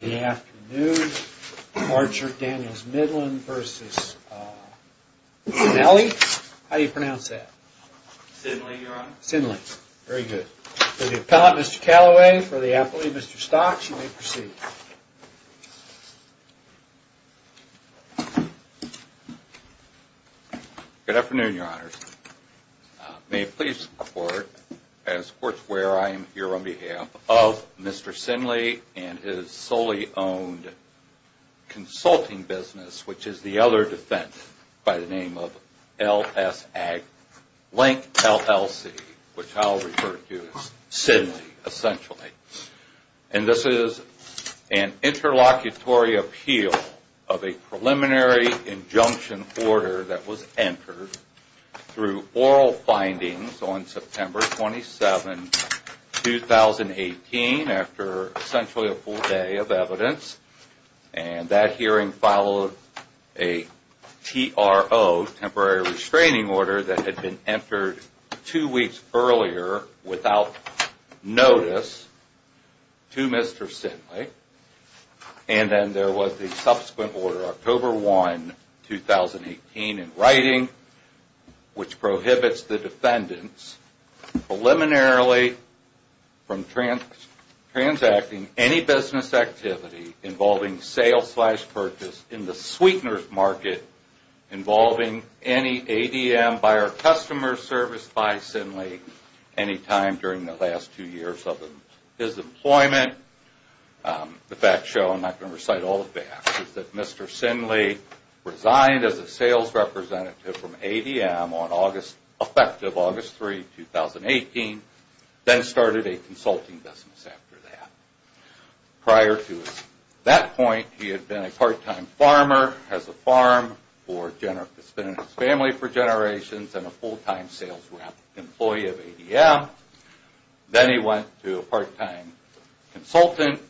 Good afternoon. Archer Daniels Midland v. Sinele. How do you pronounce that? Sinele, Your Honor. Sinele. Very good. For the appellate, Mr. Callaway. For the appellate, Mr. Stocks, you may proceed. Good afternoon, Your Honors. May it please the Court, as Courts where I am here on behalf of Mr. Sinele and his solely owned consulting business, which is the other defense by the name of LSAG, Link LLC, which I'll refer to as Sinele, essentially. And this is an interlocutory appeal of a preliminary injunction order that was entered through oral findings on September 27, 2018, after essentially a full day of evidence. And that hearing followed a TRO, temporary restraining order, that had been entered two weeks earlier without notice to Mr. Sinele. And then there was the subsequent order, October 1, 2018, in writing, which prohibits the defendants preliminarily from transacting any business activity involving sales-slash-purchase in the sweeteners market involving any ADM by our customer service by Sinele, any time during the last two years of his employment. The facts show, I'm not going to recite all the facts, is that Mr. Sinele resigned as a sales representative from ADM on August, effective August 3, 2018, then started a consulting business after that. Prior to that point, he had been a part-time farmer, has a farm, has been in his family for generations, and a full-time sales rep, employee of ADM. Then he went to a part-time consultant,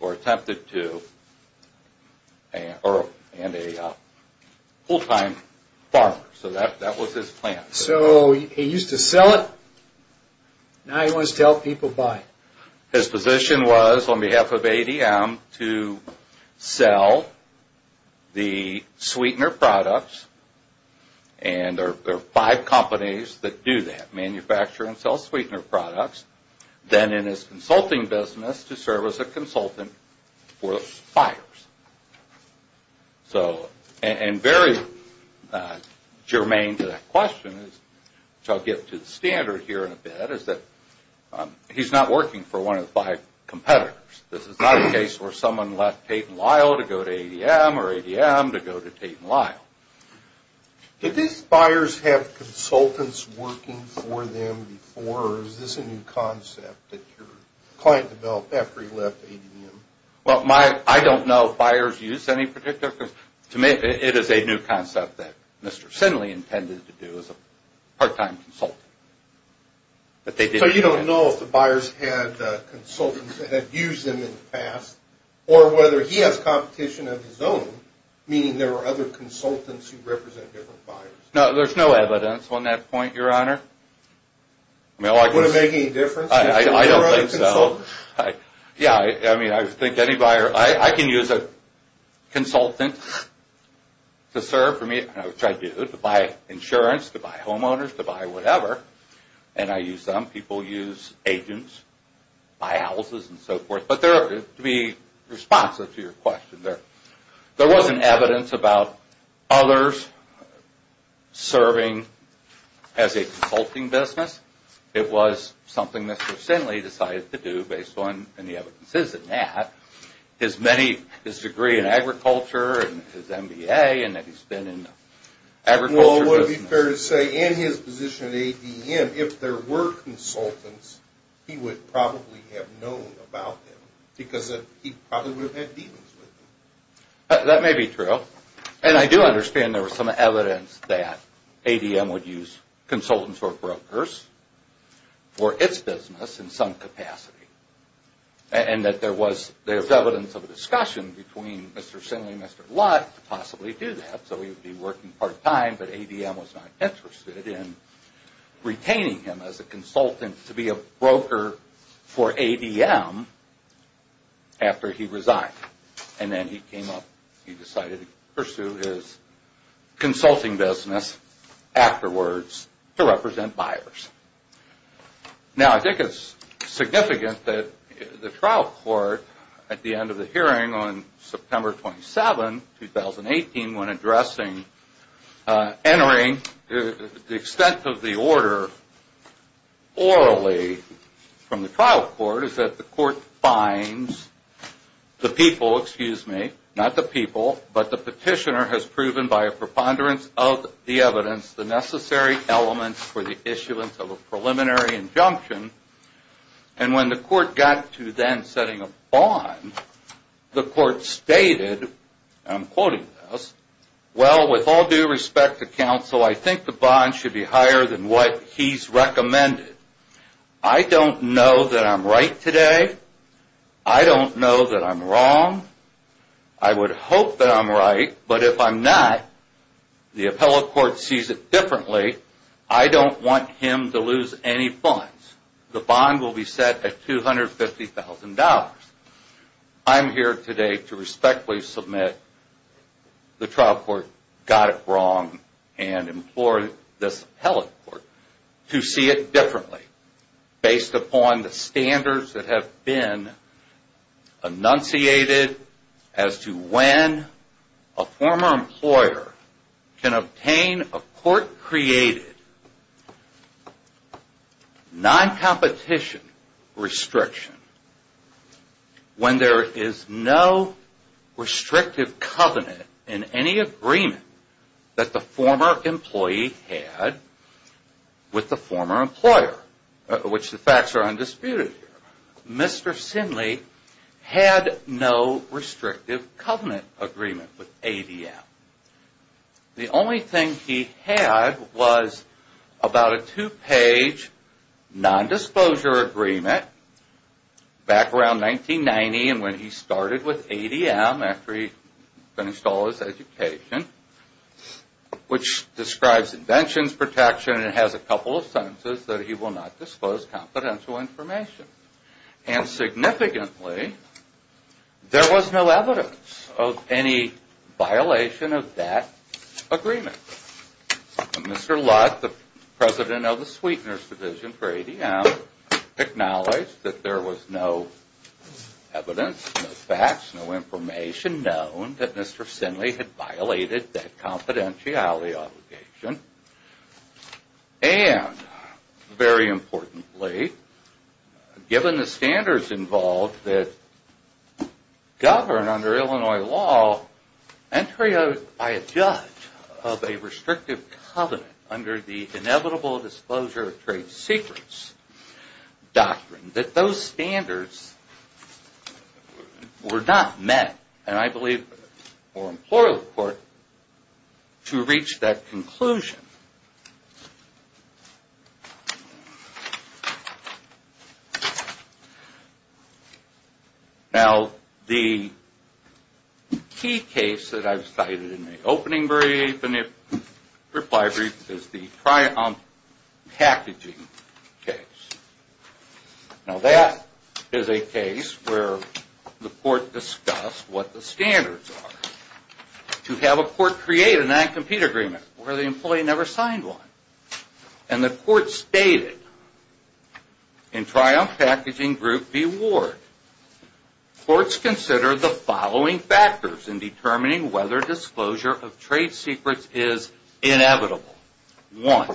or attempted to, and a full-time farmer. So that was his plan. So he used to sell it, now he wants to help people buy. His position was, on behalf of ADM, to sell the sweetener products, and there are five companies that do that, manufacture and sell sweetener products. Then in his consulting business, to serve as a consultant for the buyers. So, and very germane to that question, which I'll get to the standard here in a bit, is that he's not working for one of the five competitors. This is not a case where someone left Tate & Lyle to go to ADM, or ADM to go to Tate & Lyle. Did these buyers have consultants working for them before, or is this a new concept that your client developed after he left ADM? Well, I don't know if buyers used any particular, because to me, it is a new concept that Mr. Sinley intended to do as a part-time consultant. So you don't know if the buyers had consultants that had used them in the past, or whether he has competition of his own, meaning there were other consultants who represent different buyers. No, there's no evidence on that point, Your Honor. I don't think so. Yeah, I mean, I think any buyer, I can use a consultant to serve for me, which I do, to buy insurance, to buy homeowners, to buy whatever, and I use them. People use agents, buy houses and so forth, but to be responsive to your question, there wasn't evidence about others serving as a consulting business. It was something Mr. Sinley decided to do based on the evidences in that, his degree in agriculture and his MBA, and that he's been in the agriculture business. Well, it would be fair to say, in his position at ADM, if there were consultants, he would probably have known about them, because he probably would have had dealings with them. That may be true, and I do understand there was some evidence that ADM would use consultants or brokers for its business in some capacity, and that there was evidence of a discussion between Mr. Sinley and Mr. Lutt to possibly do that. So he would be working part-time, but ADM was not interested in retaining him as a consultant to be a broker for ADM after he resigned, and then he came up, he decided to pursue his consulting business afterwards to represent buyers. Now, I think it's significant that the trial court, at the end of the hearing on September 27, 2018, when addressing, entering the extent of the order orally from the trial court, is that the court finds the people, excuse me, not the people, but the petitioner has proven by a preponderance of the evidence, the necessary elements for the issuance of a preliminary injunction, and when the court got to then setting a bond, the court stated, and I'm quoting this, Well, with all due respect to counsel, I think the bond should be higher than what he's recommended. I don't know that I'm right today. I don't know that I'm wrong. I would hope that I'm right, but if I'm not, the appellate court sees it differently. I don't want him to lose any funds. The bond will be set at $250,000. I'm here today to respectfully submit the trial court got it wrong and implore this appellate court to see it differently based upon the standards that have been enunciated as to when a former employer can obtain a court created non-competition restriction when there is no restrictive covenant in any agreement that the former employee had with the former employer, which the facts are undisputed here. The former employee had no restrictive covenant agreement with ADM. The only thing he had was about a two-page non-disclosure agreement back around 1990 and when he started with ADM after he finished all his education, which describes inventions protection and has a couple of sentences that he will not disclose confidential information. Significantly, there was no evidence of any violation of that agreement. Mr. Lutt, the president of the Sweeteners Division for ADM, acknowledged that there was no evidence, no facts, no information known that Mr. Sinley had violated that confidentiality obligation. And, very importantly, given the standards involved that govern under Illinois law, entry by a judge of a restrictive covenant under the inevitable disclosure of trade secrets doctrine, that those standards were not met. And I believe the former employer of the court, to reach that conclusion, now the key case that I've cited in the opening reply brief is the Triumph packaging case. Now that is a case where the court discussed what the standards are to have a court create a non-compete agreement where the employee never signed one. And the court stated, in Triumph Packaging Group v. Ward, courts consider the following factors in determining whether disclosure of trade secrets is inevitable. One,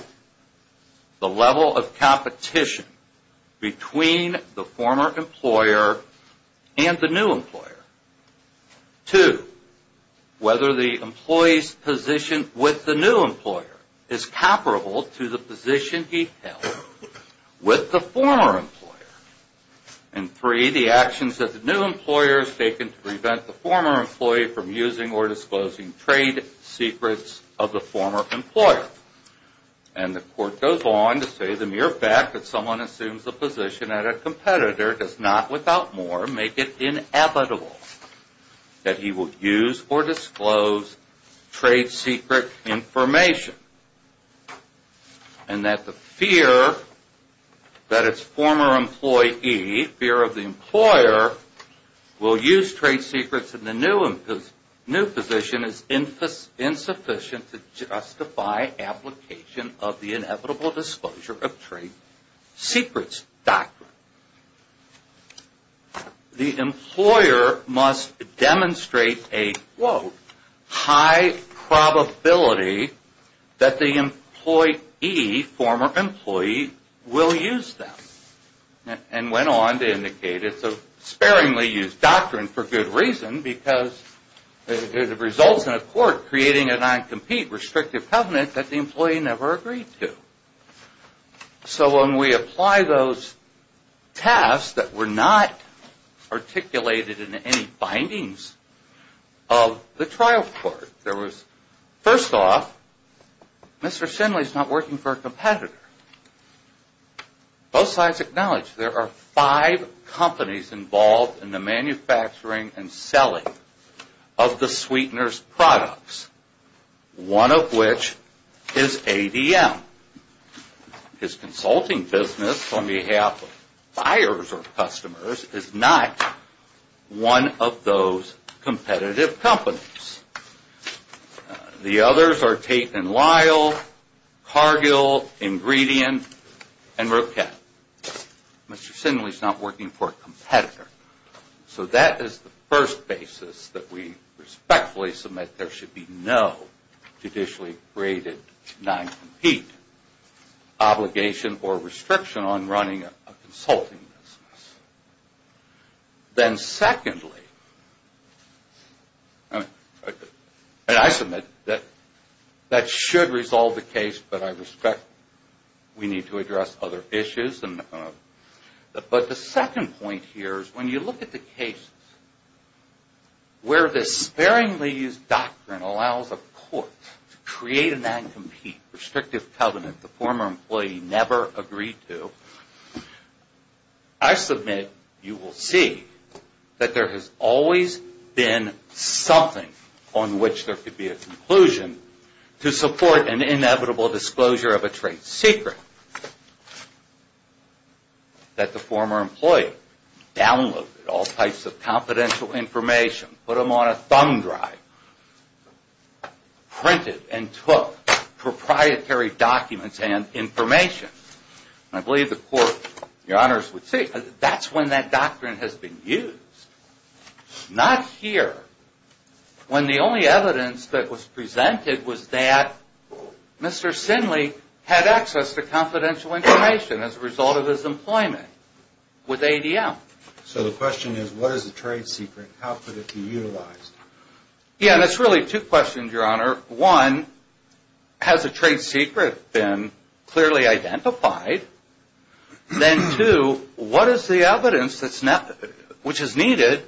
the level of competition between the former employer and the new employer. Two, whether the employee's position with the new employer is comparable to the position he held with the former employer. And three, the actions that the new employer has taken to prevent the former employee from using or disclosing trade secrets of the former employer. And the court goes on to say the mere fact that someone assumes the position at a competitor does not, without more, make it inevitable that he will use or disclose trade secret information. And that the fear that its former employee, fear of the employer, will use trade secrets of the new position is insufficient to justify application of the inevitable disclosure of trade secrets doctrine. The employer must demonstrate a, quote, high probability that the employee, former employee, will use them. And went on to indicate it's a sparingly used doctrine for good reason because it results in a court creating a non-compete restrictive covenant that the employee never agreed to. So when we apply those tasks that were not articulated in any findings of the trial court, there was, first off, Mr. Shinley's not working for a competitor. Both sides acknowledge there are five companies involved in the manufacturing and selling of the sweetener's products, one of which is ADM. His consulting business on behalf of buyers or customers is not one of those competitive companies. The others are Tate and Lyle, Cargill, Ingredient, and Roquet. Mr. Shinley's not working for a competitor. So that is the first basis that we respectfully submit there should be no judicially graded non-compete obligation or restriction on running a consulting business. Then secondly, and I submit that that should resolve the case, but I respect we need to address other issues. But the second point here is when you look at the case where the sparingly used doctrine allows a court to create a non-compete restrictive covenant the former employee never agreed to. I submit you will see that there has always been something on which there could be a conclusion to support an inevitable disclosure of a trade secret that the former employee downloaded all types of confidential information, put them on a thumb drive, printed and took proprietary documents and information. I believe the court, your honors, would say that's when that doctrine has been used. Not here, when the only evidence that was presented was that Mr. Shinley had access to confidential information as a result of his employment with ADM. So the question is what is the trade secret? How could it be utilized? Yeah, and it's really two questions, your honor. One, has a trade secret been clearly identified? Then two, what is the evidence which is needed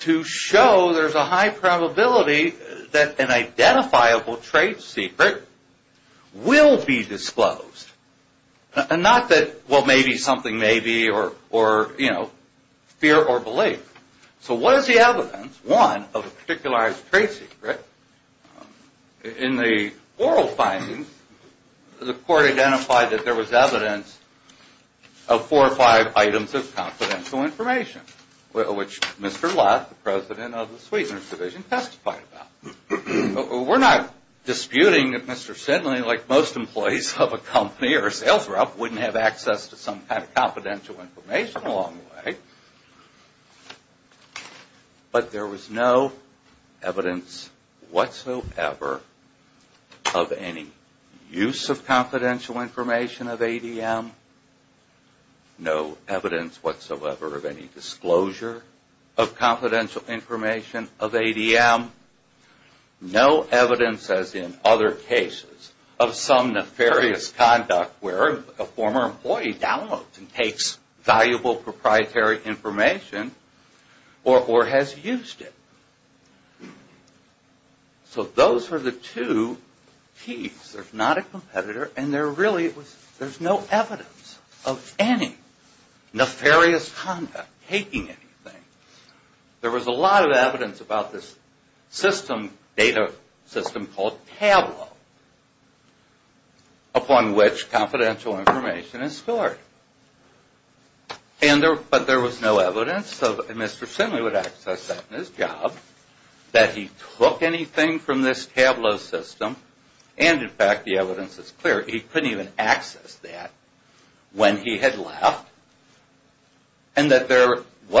to show there's a high probability that an identifiable trade secret will be disclosed? And not that, well, maybe something may be or, you know, fear or belief. So what is the evidence, one, of a particularized trade secret? In the oral findings, the court identified that there was evidence of four or five items of confidential information, which Mr. Lott, the president of the Sweetener's Division, testified about. We're not disputing that Mr. Shinley, like most employees of a company or a sales rep, wouldn't have access to some kind of confidential information along the way. But there was no evidence whatsoever of any use of confidential information of ADM. No evidence whatsoever of any disclosure of confidential information of ADM. No evidence, as in other cases, of some nefarious conduct where a former employee downloads and takes valuable proprietary information or has used it. So those are the two keys. There's not a competitor and there really was no evidence of any nefarious conduct, taking anything. There was a lot of evidence about this system, data system called Tableau, upon which confidential information is stored. But there was no evidence that Mr. Shinley would access that in his job, that he took anything from this Tableau system, and, in fact, the evidence is clear. He couldn't even access that when he had left, and that there was no evidence of any nefarious conduct.